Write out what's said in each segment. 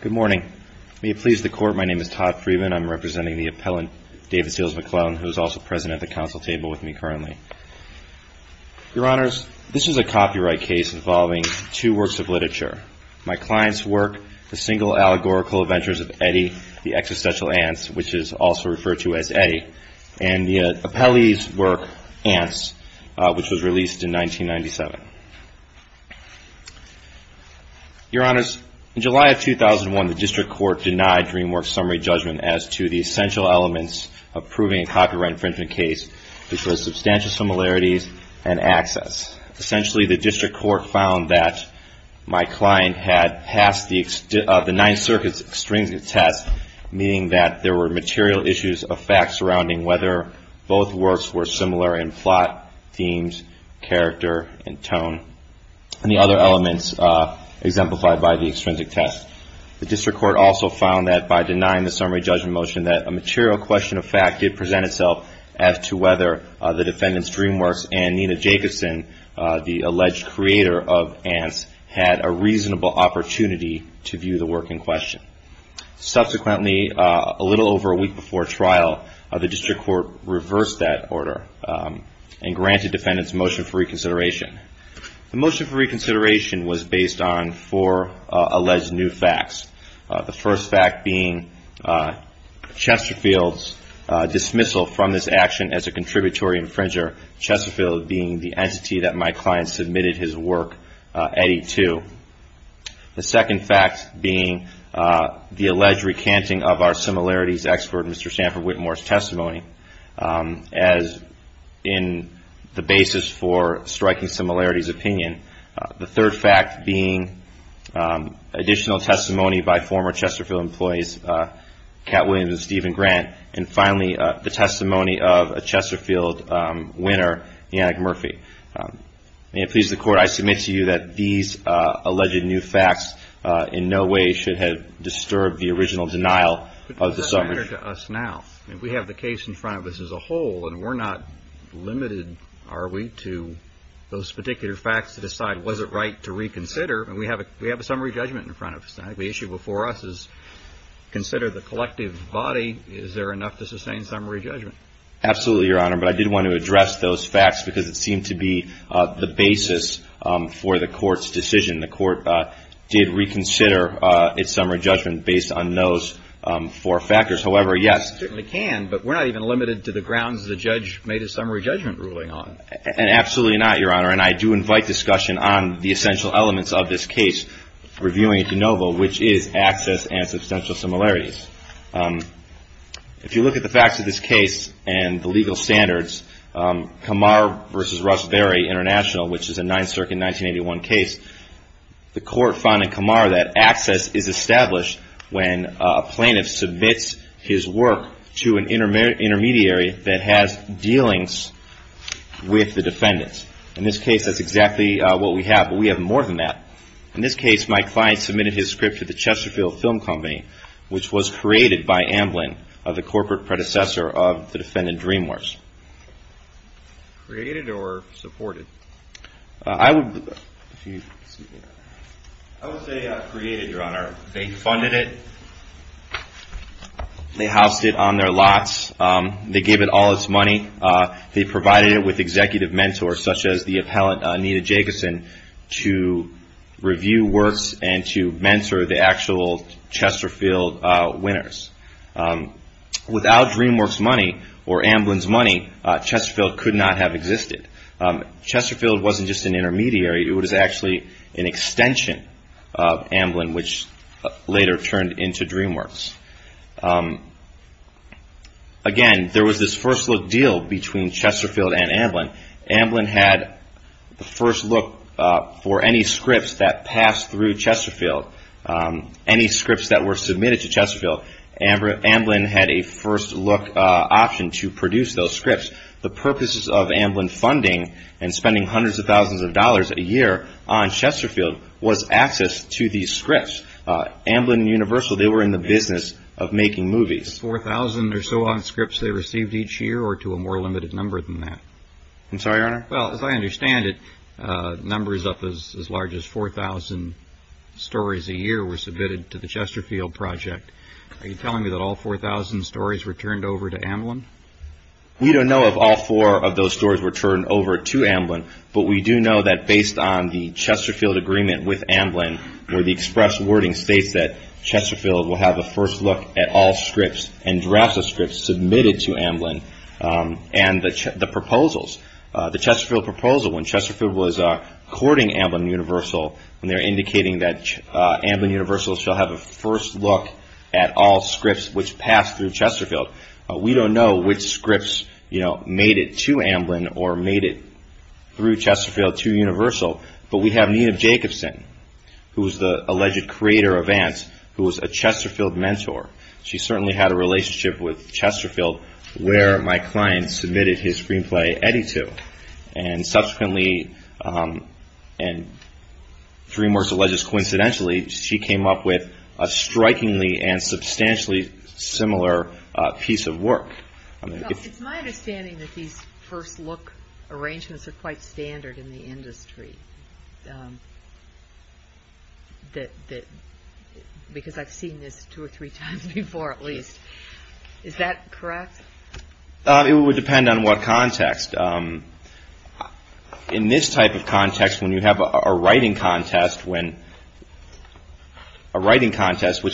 Good morning. May it please the Court, my name is Todd Freedman. I'm representing the appellant David Seals-McClellan, who is also present at the Council table with me currently. Your Honors, this is a copyright case involving two works of literature. My client's work, The Single Allegorical Adventures of Eddie, The Existential Ants, which is also referred to as Eddie, and the appellee's work, Ants, which was in July of 2001, the District Court denied DreamWorks' summary judgment as to the essential elements of proving a copyright infringement case, which was substantial similarities and access. Essentially, the District Court found that my client had passed the Ninth Circuit's extrinsic test, meaning that there were material issues of fact surrounding whether both works were similar in plot, themes, character, and the extrinsic test. The District Court also found that by denying the summary judgment motion that a material question of fact did present itself as to whether the defendant's DreamWorks and Nina Jacobson, the alleged creator of Ants, had a reasonable opportunity to view the work in question. Subsequently, a little over a week before trial, the District Court reversed that order and granted defendants motion for alleged new facts. The first fact being Chesterfield's dismissal from this action as a contributory infringer, Chesterfield being the entity that my client submitted his work, Eddie, to. The second fact being the alleged recanting of our similarities expert, Mr. Stanford Whitmore's in the basis for striking similarities opinion. The third fact being additional testimony by former Chesterfield employees, Cat Williams and Stephen Grant. And finally, the testimony of a Chesterfield winner, Yannick Murphy. May it please the Court, I submit to you that these alleged new facts in no way should have disturbed the original denial of the summary. But does it matter to us now? We have the case in front of us as a whole, and we're not limited, are we, to those particular facts to decide was it right to reconsider? We have a summary judgment in front of us now. The issue before us is consider the collective body. Is there enough to sustain summary judgment? Absolutely, Your Honor, but I did want to address those facts because it seemed to be the basis for the Court's decision. The Court did reconsider its summary judgment based on those four factors. However, yes. It certainly can, but we're not even limited to the grounds the judge made a summary judgment ruling on. Absolutely not, Your Honor, and I do invite discussion on the essential elements of this case, reviewing de novo, which is access and substantial similarities. If you look at the facts of this international, which is a Ninth Circuit 1981 case, the Court found in Kumar that access is established when a plaintiff submits his work to an intermediary that has dealings with the defendants. In this case, that's exactly what we have, but we have more than that. In this case, my client submitted his script to the Chesterfield Film Company, which was created by Amblin, the corporate predecessor of the defendant Dreamworks. Created or supported? I would say created, Your Honor. They funded it. They housed it on their lots. They gave it all its money. They provided it with executive mentors, such as the appellant, Anita Jacobson, to review works and to mentor the actual Chesterfield winners. Without Dreamworks' money or Amblin's money, Chesterfield could not have existed. Chesterfield wasn't just an intermediary. It was actually an extension of Amblin, which later turned into Dreamworks. Again, there was this first look deal between Chesterfield and Amblin. Amblin had the scripts that passed through Chesterfield, any scripts that were submitted to Chesterfield. Amblin had a first look option to produce those scripts. The purposes of Amblin funding and spending hundreds of thousands of dollars a year on Chesterfield was access to these scripts. Amblin and Universal, they were in the business of making movies. on scripts they received each year or to a more limited number than that? I'm sorry, Your Honor? Well, as I understand it, numbers up as large as 4,000 stories a year were submitted to the Chesterfield project. Are you telling me that all 4,000 stories were turned over to Amblin? We don't know if all four of those stories were turned over to Amblin, but we do know that based on the Chesterfield agreement with Amblin, where the scripts and drafts of scripts submitted to Amblin and the proposals. The Chesterfield proposal, when Chesterfield was courting Amblin and Universal, when they were indicating that Amblin and Universal shall have a first look at all scripts which passed through Chesterfield, we don't know which scripts made it to Amblin or made it through Chesterfield to Universal, but we have Nina Jacobson, who certainly had a relationship with Chesterfield, where my client submitted his screenplay, Eddie, to. And subsequently, and DreamWorks alleges coincidentally, she came up with a strikingly and substantially similar piece of work. It's my understanding that these first look Is that correct? It would depend on what context. In this type of context, when you have a writing contest, which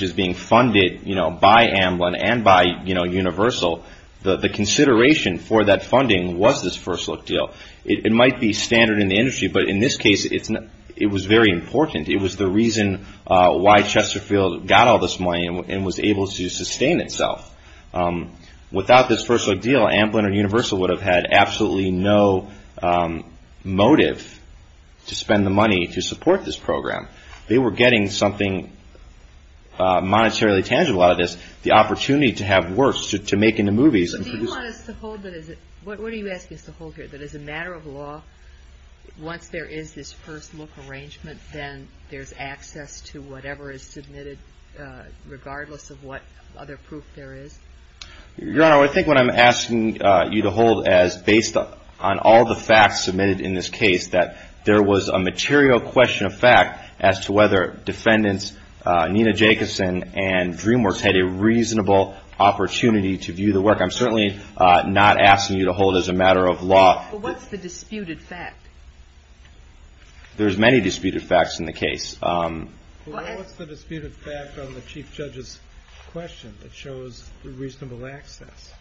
is being funded by Amblin and by Universal, the consideration for that funding was this first look deal. It might be standard in the industry, but in this case, it was very important. It was the Without this first look deal, Amblin and Universal would have had absolutely no motive to spend the money to support this program. They were getting something monetarily tangible out of this, the opportunity to have works, to make into movies. Do you want us to hold that as a matter of law, once there is this first look arrangement, then there's access to whatever is submitted regardless of what other proof there is? Your Honor, I think what I'm asking you to hold as, based on all the facts submitted in this case, that there was a material question of fact as to whether defendants Nina Jacobson and DreamWorks had a reasonable opportunity to view the work. I'm certainly not asking you to hold it as a matter of law. But what's the disputed fact? There's many disputed facts in the case. What's the disputed fact on the Chief Judge's question that shows reasonable access?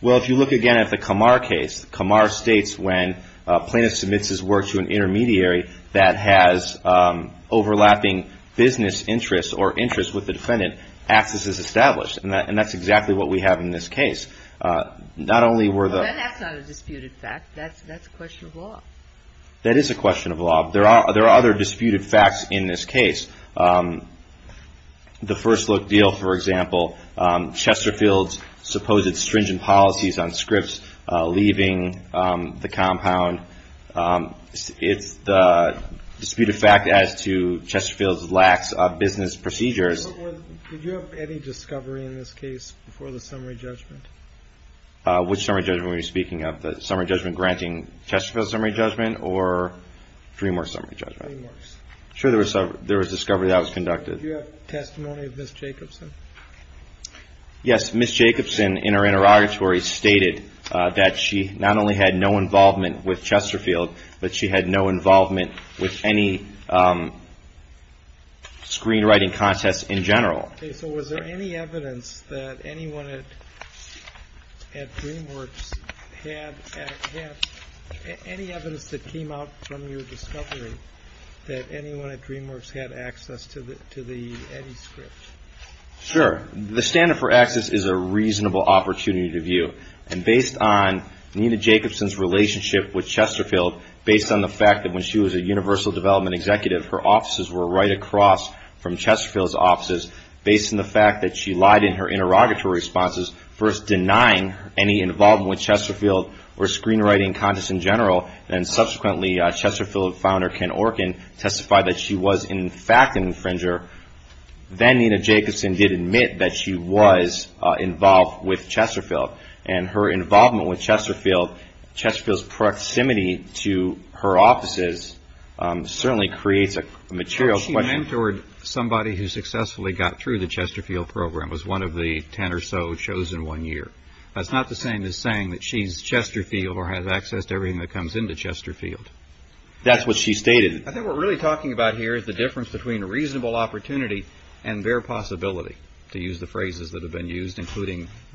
Well, if you look again at the Kamar case, Kamar states when a plaintiff submits his work to an intermediary that has overlapping business interests or interests with the defendant, access is established. And that's exactly what we have in this case. That's not a disputed fact. That's a question of law. That is a question of law. There are other disputed facts in this case. The first look deal, for example, Chesterfield's supposed stringent policies on scripts leaving the compound, it's the disputed fact as to Chesterfield's lax business procedures. Did you have any discovery in this case before the summary judgment? Which summary judgment were you speaking of, the summary judgment granting Chesterfield's summary judgment or DreamWorks' summary judgment? DreamWorks. Sure, there was discovery that was conducted. Did you have testimony of Ms. Jacobson? Yes, Ms. Jacobson in her interrogatory stated that she not only had no involvement with Chesterfield, but she had no involvement with any screenwriting contests in general. Okay, so was there any evidence that anyone at DreamWorks had, any evidence that came out from your discovery that anyone at DreamWorks had access to the EDDI script? Sure. The standard for access is a reasonable opportunity to view. And based on Nina Jacobson's relationship with Chesterfield, based on the fact that when she was a Universal Development Executive, her offices were right across from Chesterfield's offices, based on the fact that she lied in her interrogatory responses, first denying any involvement with Chesterfield or screenwriting contests in general, and subsequently Chesterfield founder Ken Orkin testified that she was in fact an infringer, then Nina Jacobson did admit that she was involved with Chesterfield. Chesterfield's proximity to her offices certainly creates a material question. She mentored somebody who successfully got through the Chesterfield program, was one of the ten or so chosen one year. That's not the same as saying that she's Chesterfield or has access to everything that comes into Chesterfield. That's what she stated. I think what we're really talking about here is the difference between reasonable opportunity and bare possibility, to use the phrases that have been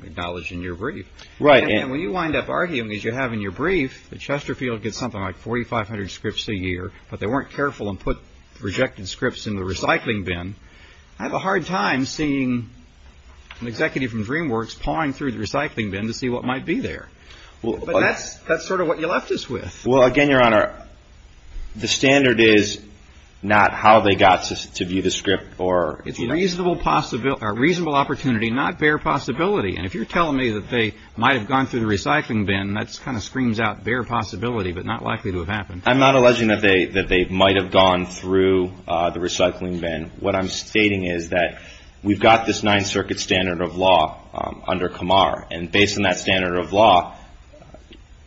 acknowledged in your brief. And when you wind up arguing, as you have in your brief, that Chesterfield gets something like 4,500 scripts a year, but they weren't careful and put rejected scripts in the recycling bin, I have a hard time seeing an executive from DreamWorks pawing through the recycling bin to see what might be there. But that's sort of what you left us with. Well, again, Your Honor, the standard is not how they got to view the script. It's reasonable opportunity, not bare possibility. And if you're telling me that they might have gone through the recycling bin, that kind of screams out bare possibility, but not likely to have happened. I'm not alleging that they might have gone through the recycling bin. What I'm stating is that we've got this Ninth Circuit standard of law under Kamar. And based on that standard of law,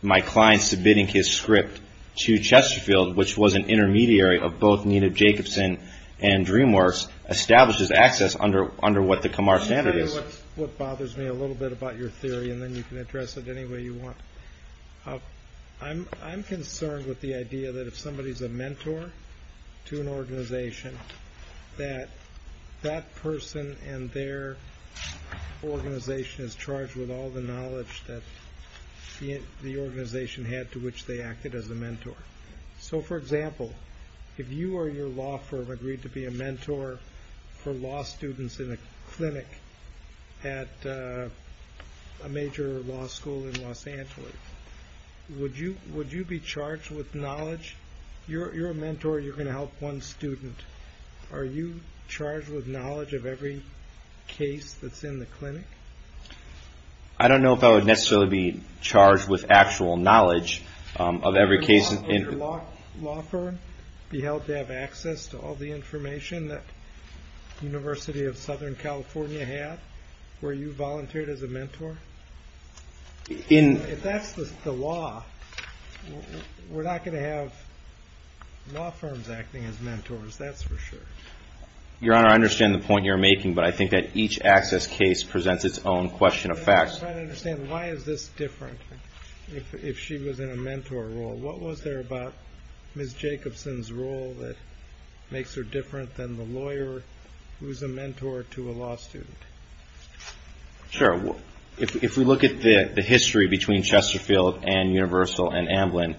my client submitting his script to Chesterfield, which was an intermediary of both New Jacobson and DreamWorks, establishes access under what the Kamar standard is. Let me tell you what bothers me a little bit about your theory, and then you can address it any way you want. I'm concerned with the idea that if somebody's a mentor to an organization, that that person and their organization is charged with all the knowledge that the organization had to which they acted as a mentor. So, for example, if you or your law firm agreed to be a mentor for law students in a clinic at a major law school in Los Angeles, would you be charged with knowledge? You're a mentor. You're going to help one student. Are you charged with knowledge of every case that's in the clinic? I don't know if I would necessarily be charged with actual knowledge of every case. Would your law firm be held to have access to all the information that University of Southern California had, where you volunteered as a mentor? If that's the law, we're not going to have law firms acting as mentors, that's for sure. Your Honor, I understand the point you're making, but I think that each access case presents its own question of facts. If I understand, why is this different if she was in a mentor role? What was there about Ms. Jacobson's role that makes her different than the lawyer who's a mentor to a law student? Sure. If we look at the history between Chesterfield and Universal and Amblin,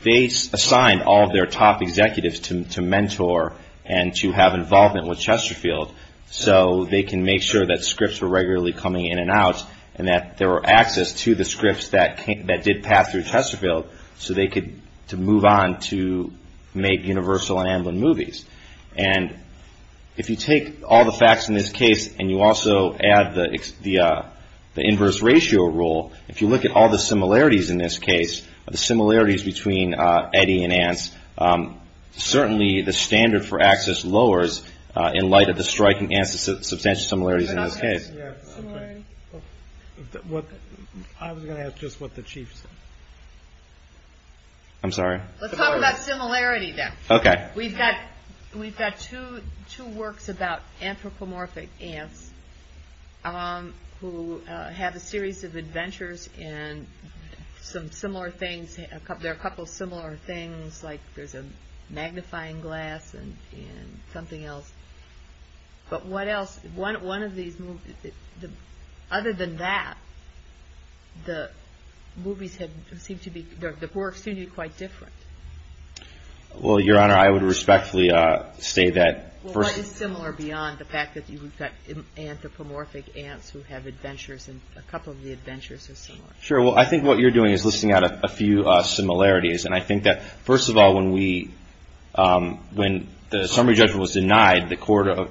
they assigned all of their top executives to mentor and to have involvement with Chesterfield so they can make sure that scripts were regularly coming in and out and that there were access to the case and you also add the inverse ratio rule, if you look at all the similarities in this case, the similarities between Eddy and Anse, certainly the standard for access lowers in light of the striking substantial similarities in this case. I was going to ask just what the Chief said. I'm sorry? Let's talk about similarity then. Okay. We've got two works about anthropomorphic ants who have a series of adventures and there are a couple of similar things like there's a magnifying glass and something else, but what else? Other than that, the works seem to be quite different. Well, Your Honor, I would respectfully say that. Well, what is similar beyond the fact that you've got anthropomorphic ants who have adventures and a couple of the adventures are similar? Sure. Well, I think what you're doing is listing out a few similarities and I think that first of all, when the summary judgment was denied, the court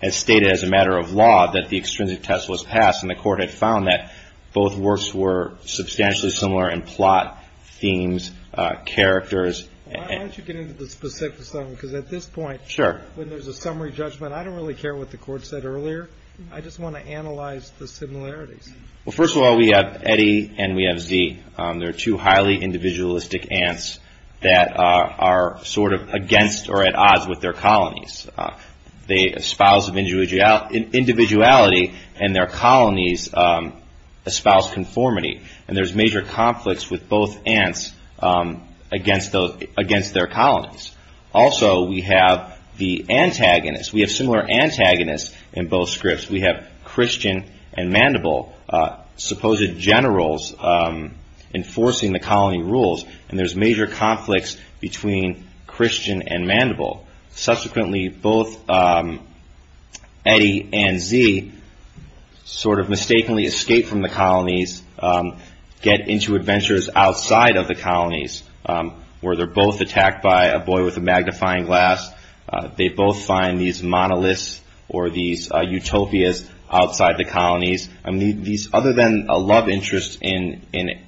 had stated as a matter of law that the extrinsic test was passed and the court had found that both works were substantially similar in plot, themes, characters. Why don't you get into the specifics of them because at this point when there's a summary judgment, I don't really care what the court said earlier, I just want to analyze the similarities. Well, first of all, we have Eddy and we have Zee. They're two highly individualistic ants that are sort of against or at odds with their colonies. They espouse individuality and their colonies espouse conformity and there's major conflicts with both ants against their colonies. Also, we have the antagonists. We have similar antagonists in both scripts. We have Christian and Mandible, supposed generals enforcing the colony rules and there's major conflicts between Christian and Mandible. Subsequently, both Eddy and Zee sort of mistakenly escape from the colonies, get into adventures outside of the colonies where they're both attacked by a boy with a magnifying glass. They both find these monoliths or these utopias outside the colonies. Other than a love interest in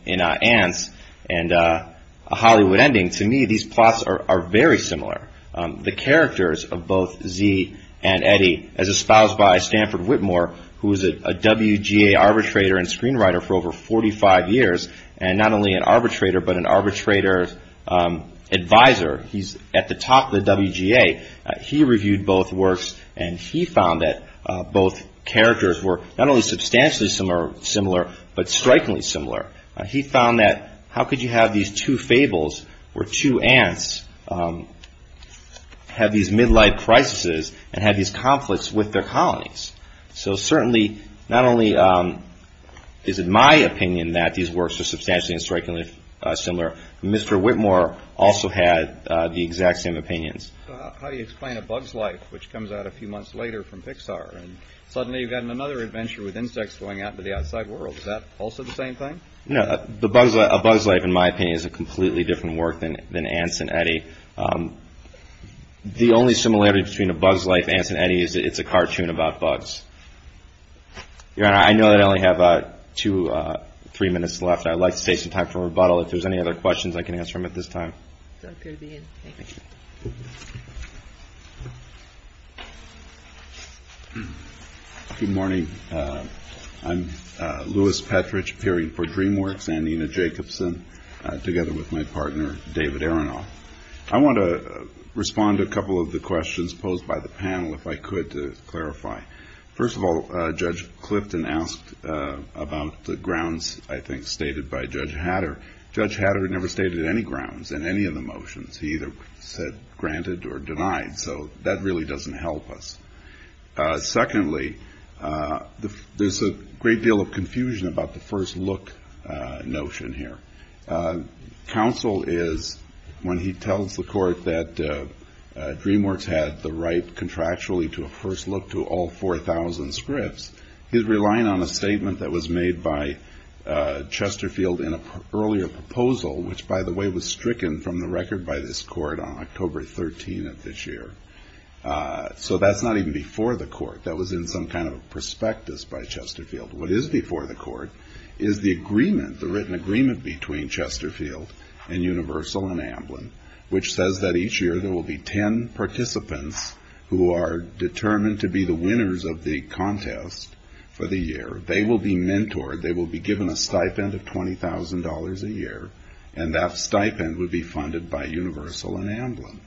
ants and a Hollywood ending, to me these plots are very similar. The characters of both Zee and Eddy, as espoused by Stanford Whitmore, who was a WGA arbitrator and screenwriter for over 45 years and not only an arbitrator but an arbitrator's advisor, he's at the top of the WGA. He reviewed both works and he found that both characters were not only substantially similar but strikingly similar. He found that how could you have these two fables where two ants have these midlife crises and have these conflicts with their colonies? So certainly, not only is it my opinion that these works are substantially and strikingly similar, Mr. Whitmore also had the exact same opinions. How do you explain A Bug's Life, which comes out a few months later from Pixar? Suddenly you've got another adventure with insects going out into the outside world. Is that also the same thing? A Bug's Life, in my opinion, is a completely different work than Ants and Eddy. The only similarity between A Bug's Life and Ants and Eddy is that it's a cartoon about bugs. Your Honor, I know that I only have two or three minutes left. I'd like to take some time for rebuttal. If there's any other questions I can answer them at this time. Thank you. Good morning. I'm Louis Petrich, appearing for DreamWorks and Nina Jacobson, together with my partner, David Aronoff. I want to respond to a couple of the questions posed by the panel, if I could, to clarify. First of all, Judge Clifton asked about the grounds, I think, stated by Judge Hatter. Judge Hatter never stated any grounds in any of the motions. He either said granted or denied, so that really doesn't help us. Secondly, there's a great deal of confusion about the first look notion here. Counsel is, when he tells the court that DreamWorks had the right contractually to a first look to all 4,000 scripts, he's relying on a statement that was made by Chesterfield in an earlier proposal, which, by the way, was stricken from the record by this court on October 13th of this year. So that's not even before the court. That was in some kind of a prospectus by Chesterfield. What is before the court is the agreement, the written agreement, between Chesterfield and Universal and Amblin, which says that each year there will be 10 participants who are determined to be the winners of the contest for the year. They will be mentored. They will be given a stipend of $20,000 a year, and that stipend would be funded by Universal and Amblin.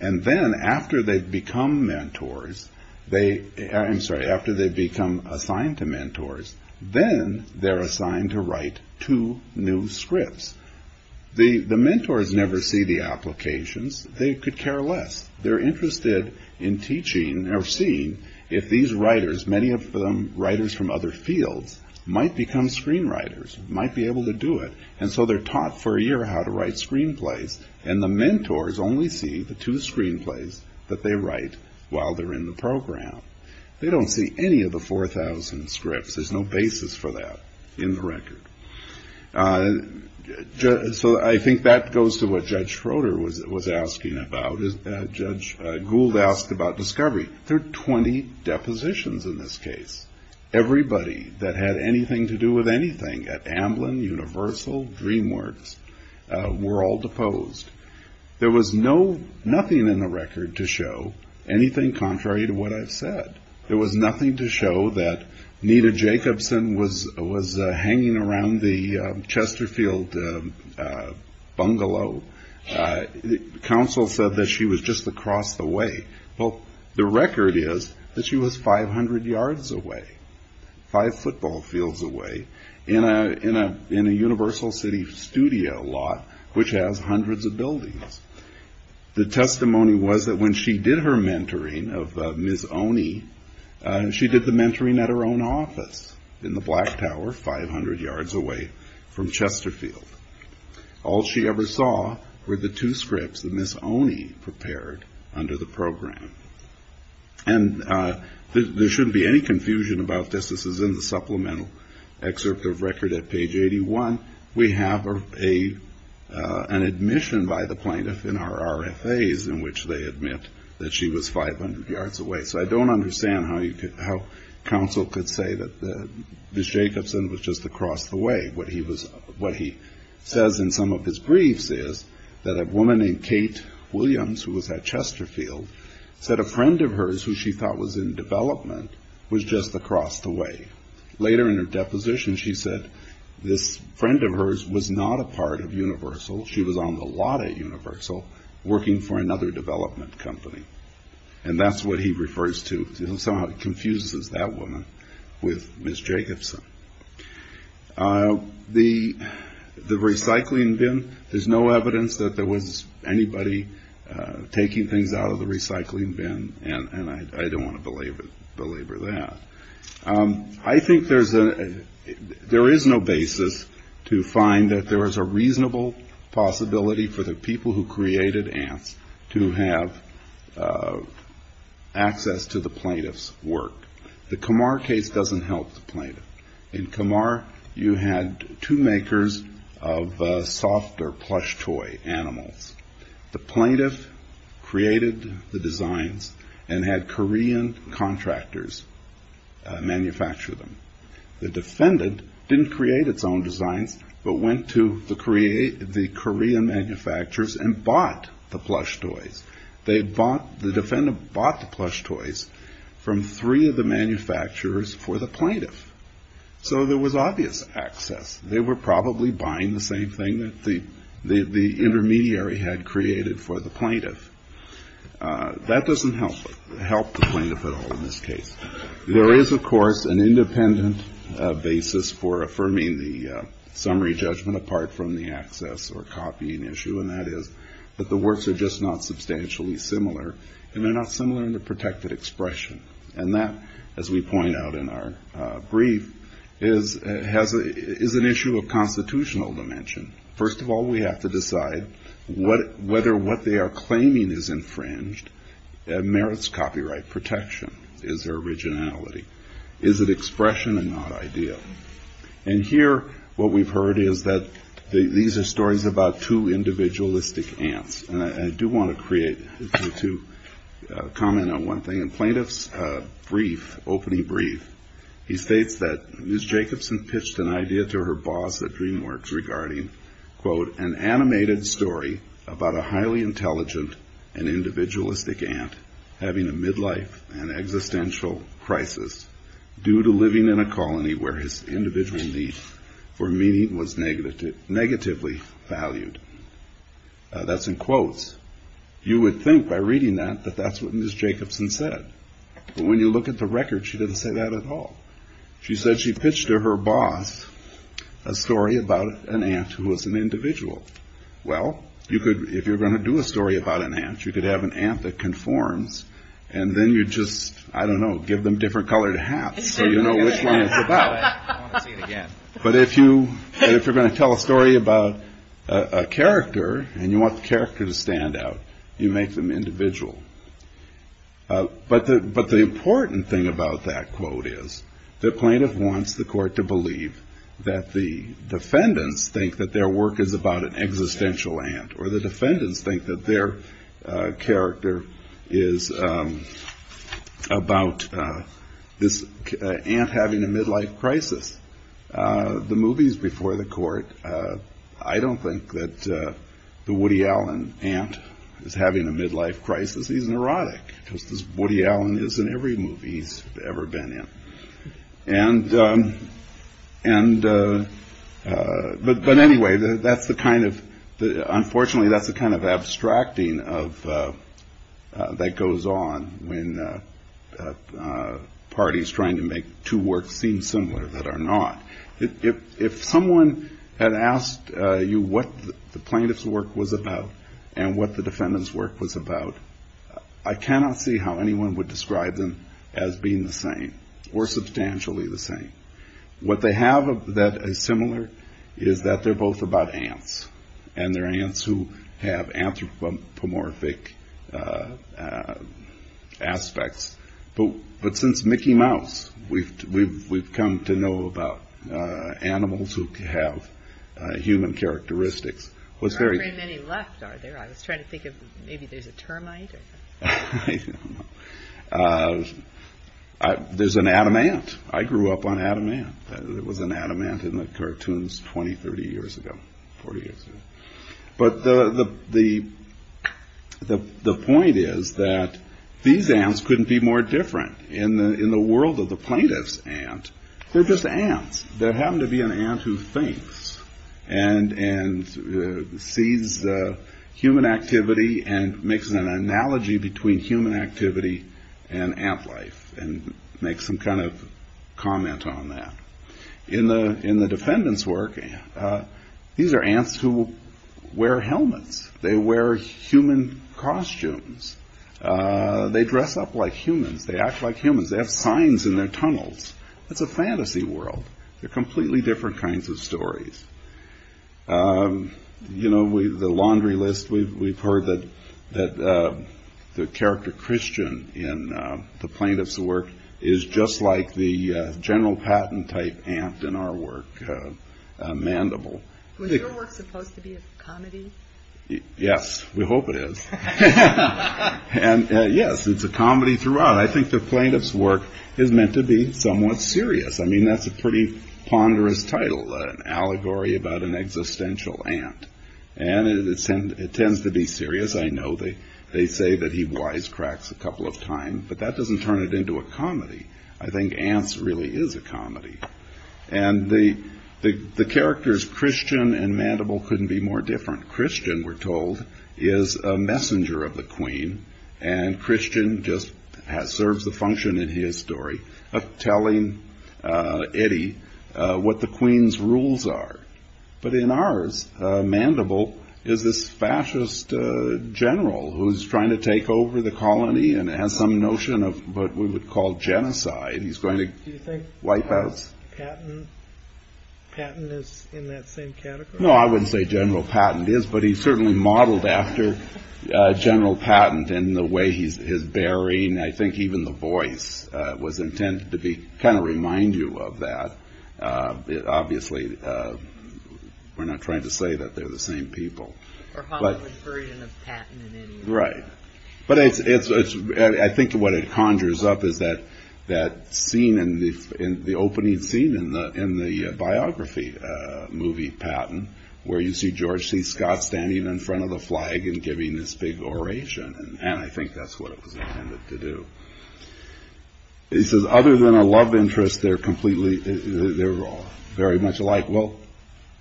And then after they become mentors, they – I'm sorry, after they become assigned to mentors, then they're assigned to write two new scripts. The mentors never see the applications. They could care less. They're interested in teaching or seeing if these writers, many of them writers from other fields, might become screenwriters, might be able to do it, and so they're taught for a year how to write screenplays, and the mentors only see the two screenplays that they write while they're in the program. They don't see any of the 4,000 scripts. There's no basis for that in the record. So I think that goes to what Judge Schroeder was asking about. Judge Gould asked about discovery. There are 20 depositions in this case. Everybody that had anything to do with anything at Amblin, Universal, DreamWorks, were all deposed. There was nothing in the record to show anything contrary to what I've said. There was nothing to show that Nita Jacobson was hanging around the Chesterfield bungalow. Counsel said that she was just across the way. Well, the record is that she was 500 yards away, five football fields away, in a Universal City studio lot, which has hundreds of buildings. The testimony was that when she did her mentoring of Ms. Oney, she did the mentoring at her own office in the Black Tower, 500 yards away from Chesterfield. All she ever saw were the two scripts that Ms. Oney prepared under the program. And there shouldn't be any confusion about this. This is in the supplemental excerpt of record at page 81. We have an admission by the plaintiff in our RFAs in which they admit that she was 500 yards away. So I don't understand how counsel could say that Ms. Jacobson was just across the way. What he says in some of his briefs is that a woman named Kate Williams, who was at Chesterfield, said a friend of hers who she thought was in development was just across the way. Later in her deposition, she said this friend of hers was not a part of Universal. She was on the lot at Universal working for another development company. And that's what he refers to. It somehow confuses that woman with Ms. Jacobson. The recycling bin, there's no evidence that there was anybody taking things out of the recycling bin, and I don't want to belabor that. I think there is no basis to find that there is a reasonable possibility for the people who created ants to have access to the plaintiff's work. The Kamar case doesn't help the plaintiff. In Kamar, you had two makers of softer plush toy animals. The plaintiff created the designs and had Korean contractors manufacture them. The defendant didn't create its own designs, but went to the Korean manufacturers and bought the plush toys. The defendant bought the plush toys from three of the manufacturers for the plaintiff. So there was obvious access. They were probably buying the same thing that the intermediary had created for the plaintiff. That doesn't help the plaintiff at all in this case. There is, of course, an independent basis for affirming the summary judgment apart from the access or copying issue, and that is that the works are just not substantially similar, and they're not similar in the protected expression. And that, as we point out in our brief, is an issue of constitutional dimension. First of all, we have to decide whether what they are claiming is infringed merits copyright protection. Is there originality? Is it expression and not idea? And here, what we've heard is that these are stories about two individualistic ants. And I do want to comment on one thing. In Plaintiff's opening brief, he states that Ms. Jacobson pitched an idea to her boss at DreamWorks regarding, quote, an animated story about a highly intelligent and individualistic ant having a midlife and existential crisis due to living in a colony where his individual needs for meaning was negatively valued. That's in quotes. You would think, by reading that, that that's what Ms. Jacobson said. But when you look at the record, she didn't say that at all. She said she pitched to her boss a story about an ant who was an individual. Well, if you're going to do a story about an ant, you could have an ant that conforms, and then you just, I don't know, give them different colored hats so you know which one it's about. I want to see it again. But if you're going to tell a story about a character and you want the character to stand out, you make them individual. But the important thing about that quote is that Plaintiff wants the court to believe that the defendants think that their work is about an existential ant The movies before the court, I don't think that the Woody Allen ant is having a midlife crisis. He's neurotic, just as Woody Allen is in every movie he's ever been in. But anyway, that's the kind of, unfortunately, that's the kind of abstracting that goes on when parties trying to make two works seem similar that are not. If someone had asked you what the plaintiff's work was about and what the defendant's work was about, I cannot see how anyone would describe them as being the same, or substantially the same. What they have that is similar is that they're both about ants, and they're ants who have anthropomorphic aspects. But since Mickey Mouse, we've come to know about animals who have human characteristics. There aren't very many left, are there? I was trying to think of, maybe there's a termite? I don't know. There's an Adam ant. I grew up on Adam ant. There was an Adam ant in the cartoons 20, 30 years ago, 40 years ago. But the point is that these ants couldn't be more different in the world of the plaintiff's ant. They're just ants that happen to be an ant who thinks and sees human activity and makes an analogy between human activity and ant life and makes some kind of comment on that. In the defendant's work, these are ants who wear helmets. They wear human costumes. They dress up like humans. They act like humans. They have signs in their tunnels. It's a fantasy world. They're completely different kinds of stories. The laundry list, we've heard that the character Christian in the plaintiff's work is just like the general patent type ant in our work, Mandible. Was your work supposed to be a comedy? Yes, we hope it is. Yes, it's a comedy throughout. But I think the plaintiff's work is meant to be somewhat serious. I mean, that's a pretty ponderous title, an allegory about an existential ant. And it tends to be serious. I know they say that he wisecracks a couple of times, but that doesn't turn it into a comedy. I think ants really is a comedy. And the characters Christian and Mandible couldn't be more different. Christian, we're told, is a messenger of the queen. And Christian just serves the function in his story of telling Eddie what the queen's rules are. But in ours, Mandible is this fascist general who's trying to take over the colony and has some notion of what we would call genocide. Do you think patent is in that same category? No, I wouldn't say general patent is, but he certainly modeled after general patent in the way he's bearing. I think even the voice was intended to be kind of remind you of that. Obviously, we're not trying to say that they're the same people. Or Hollywood version of patent in any way. Right. But I think what it conjures up is that that scene in the opening scene in the in the biography movie, Patton, where you see George C. Scott standing in front of the flag and giving this big oration. And I think that's what it was intended to do. Other than a love interest, they're completely they're all very much alike. Well,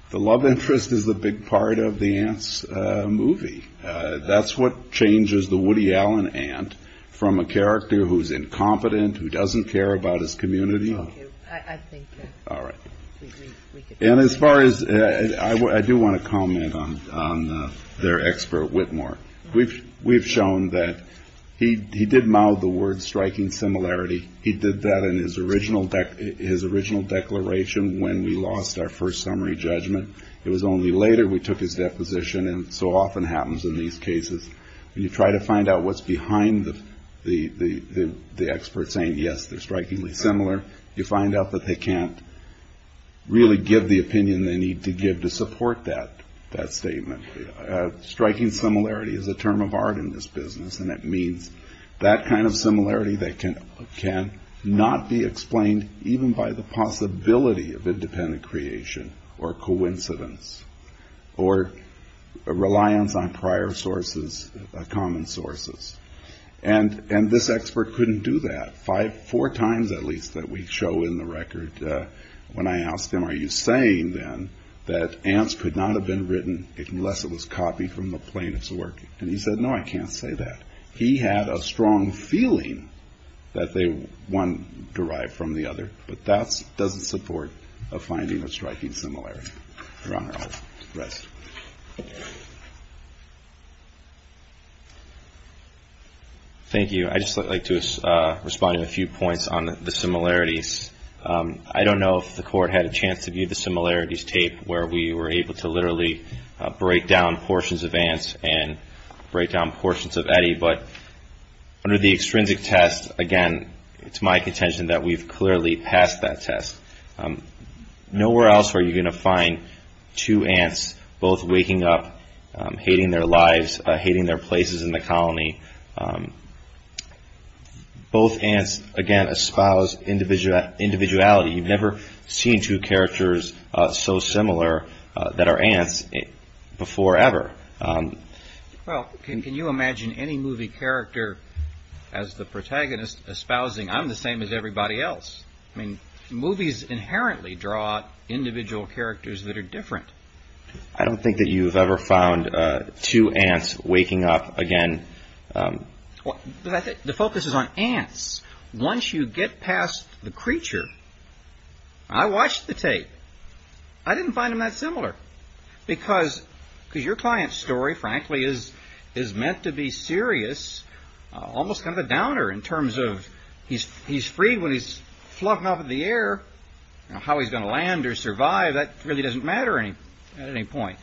the love interest is a big part of the ants movie. That's what changes the Woody Allen ant from a character who's incompetent, who doesn't care about his community. I think. All right. And as far as I do want to comment on their expert Whitmore, we've we've shown that he did mouth the word striking similarity. He did that in his original his original declaration when we lost our first summary judgment. It was only later we took his deposition. And so often happens in these cases. You try to find out what's behind the the the the expert saying, yes, they're strikingly similar. You find out that they can't really give the opinion they need to give to support that that statement. Striking similarity is a term of art in this business. And it means that kind of similarity that can can not be explained even by the possibility of independent creation or coincidence or reliance on prior sources, common sources. And and this expert couldn't do that five, four times, at least that we show in the record. When I asked him, are you saying then that ants could not have been written unless it was copied from the plaintiffs work? And he said, no, I can't say that. He had a strong feeling that they were one derived from the other. But that's doesn't support a finding of striking similarity. Thank you. I just like to respond to a few points on the similarities. I don't know if the court had a chance to view the similarities tape where we were able to literally break down portions of ants. And break down portions of Eddie. But under the extrinsic test, again, it's my contention that we've clearly passed that test. Nowhere else are you going to find two ants both waking up, hating their lives, hating their places in the colony. Both ants, again, espouse individual individuality. You've never seen two characters so similar that are ants before ever. Well, can you imagine any movie character as the protagonist espousing? I'm the same as everybody else. I mean, movies inherently draw individual characters that are different. I don't think that you've ever found two ants waking up again. The focus is on ants. Once you get past the creature. I watched the tape. I didn't find him that similar. Because because your client's story, frankly, is is meant to be serious. Almost kind of a downer in terms of he's he's free when he's fluffing up in the air. How he's going to land or survive. That really doesn't matter at any point.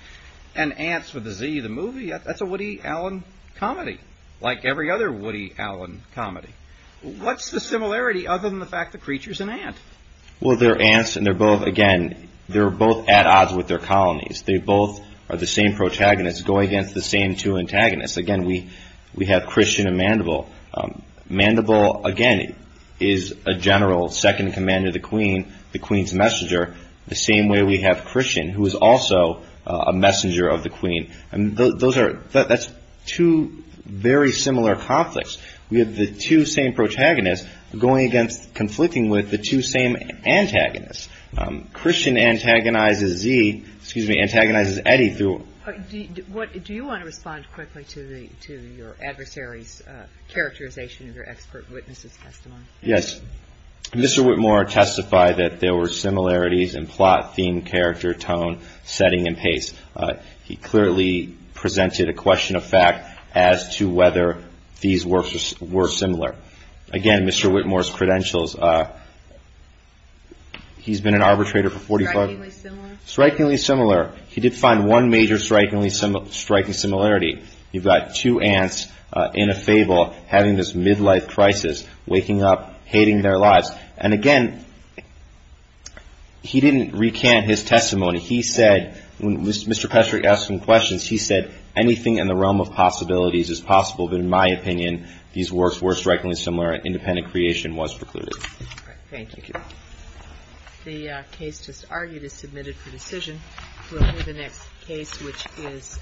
And ants with the Z, the movie, that's a Woody Allen comedy. Like every other Woody Allen comedy. What's the similarity other than the fact the creature's an ant? Well, they're ants and they're both again, they're both at odds with their colonies. They both are the same protagonists going against the same two antagonists. Again, we we have Christian and Mandible. Mandible, again, is a general second commander, the queen, the queen's messenger. The same way we have Christian, who is also a messenger of the queen. And those are that's two very similar conflicts. We have the two same protagonists going against conflicting with the two same antagonists. Christian antagonizes Z, excuse me, antagonizes Eddie through. What do you want to respond quickly to the to your adversaries characterization of your expert witnesses testimony? Yes, Mr. Whitmore testified that there were similarities in plot, theme, character, tone, setting and pace. He clearly presented a question of fact as to whether these were similar. Again, Mr. Whitmore's credentials. He's been an arbitrator for 45 strikingly similar. He did find one major strikingly striking similarity. You've got two aunts in a fable having this midlife crisis, waking up, hating their lives. And, again, he didn't recant his testimony. He said when Mr. Patrick asked him questions, he said anything in the realm of possibilities is possible. But in my opinion, these works were strikingly similar. Independent creation was precluded. The case just argued is submitted for decision. We'll move to the next case, which is.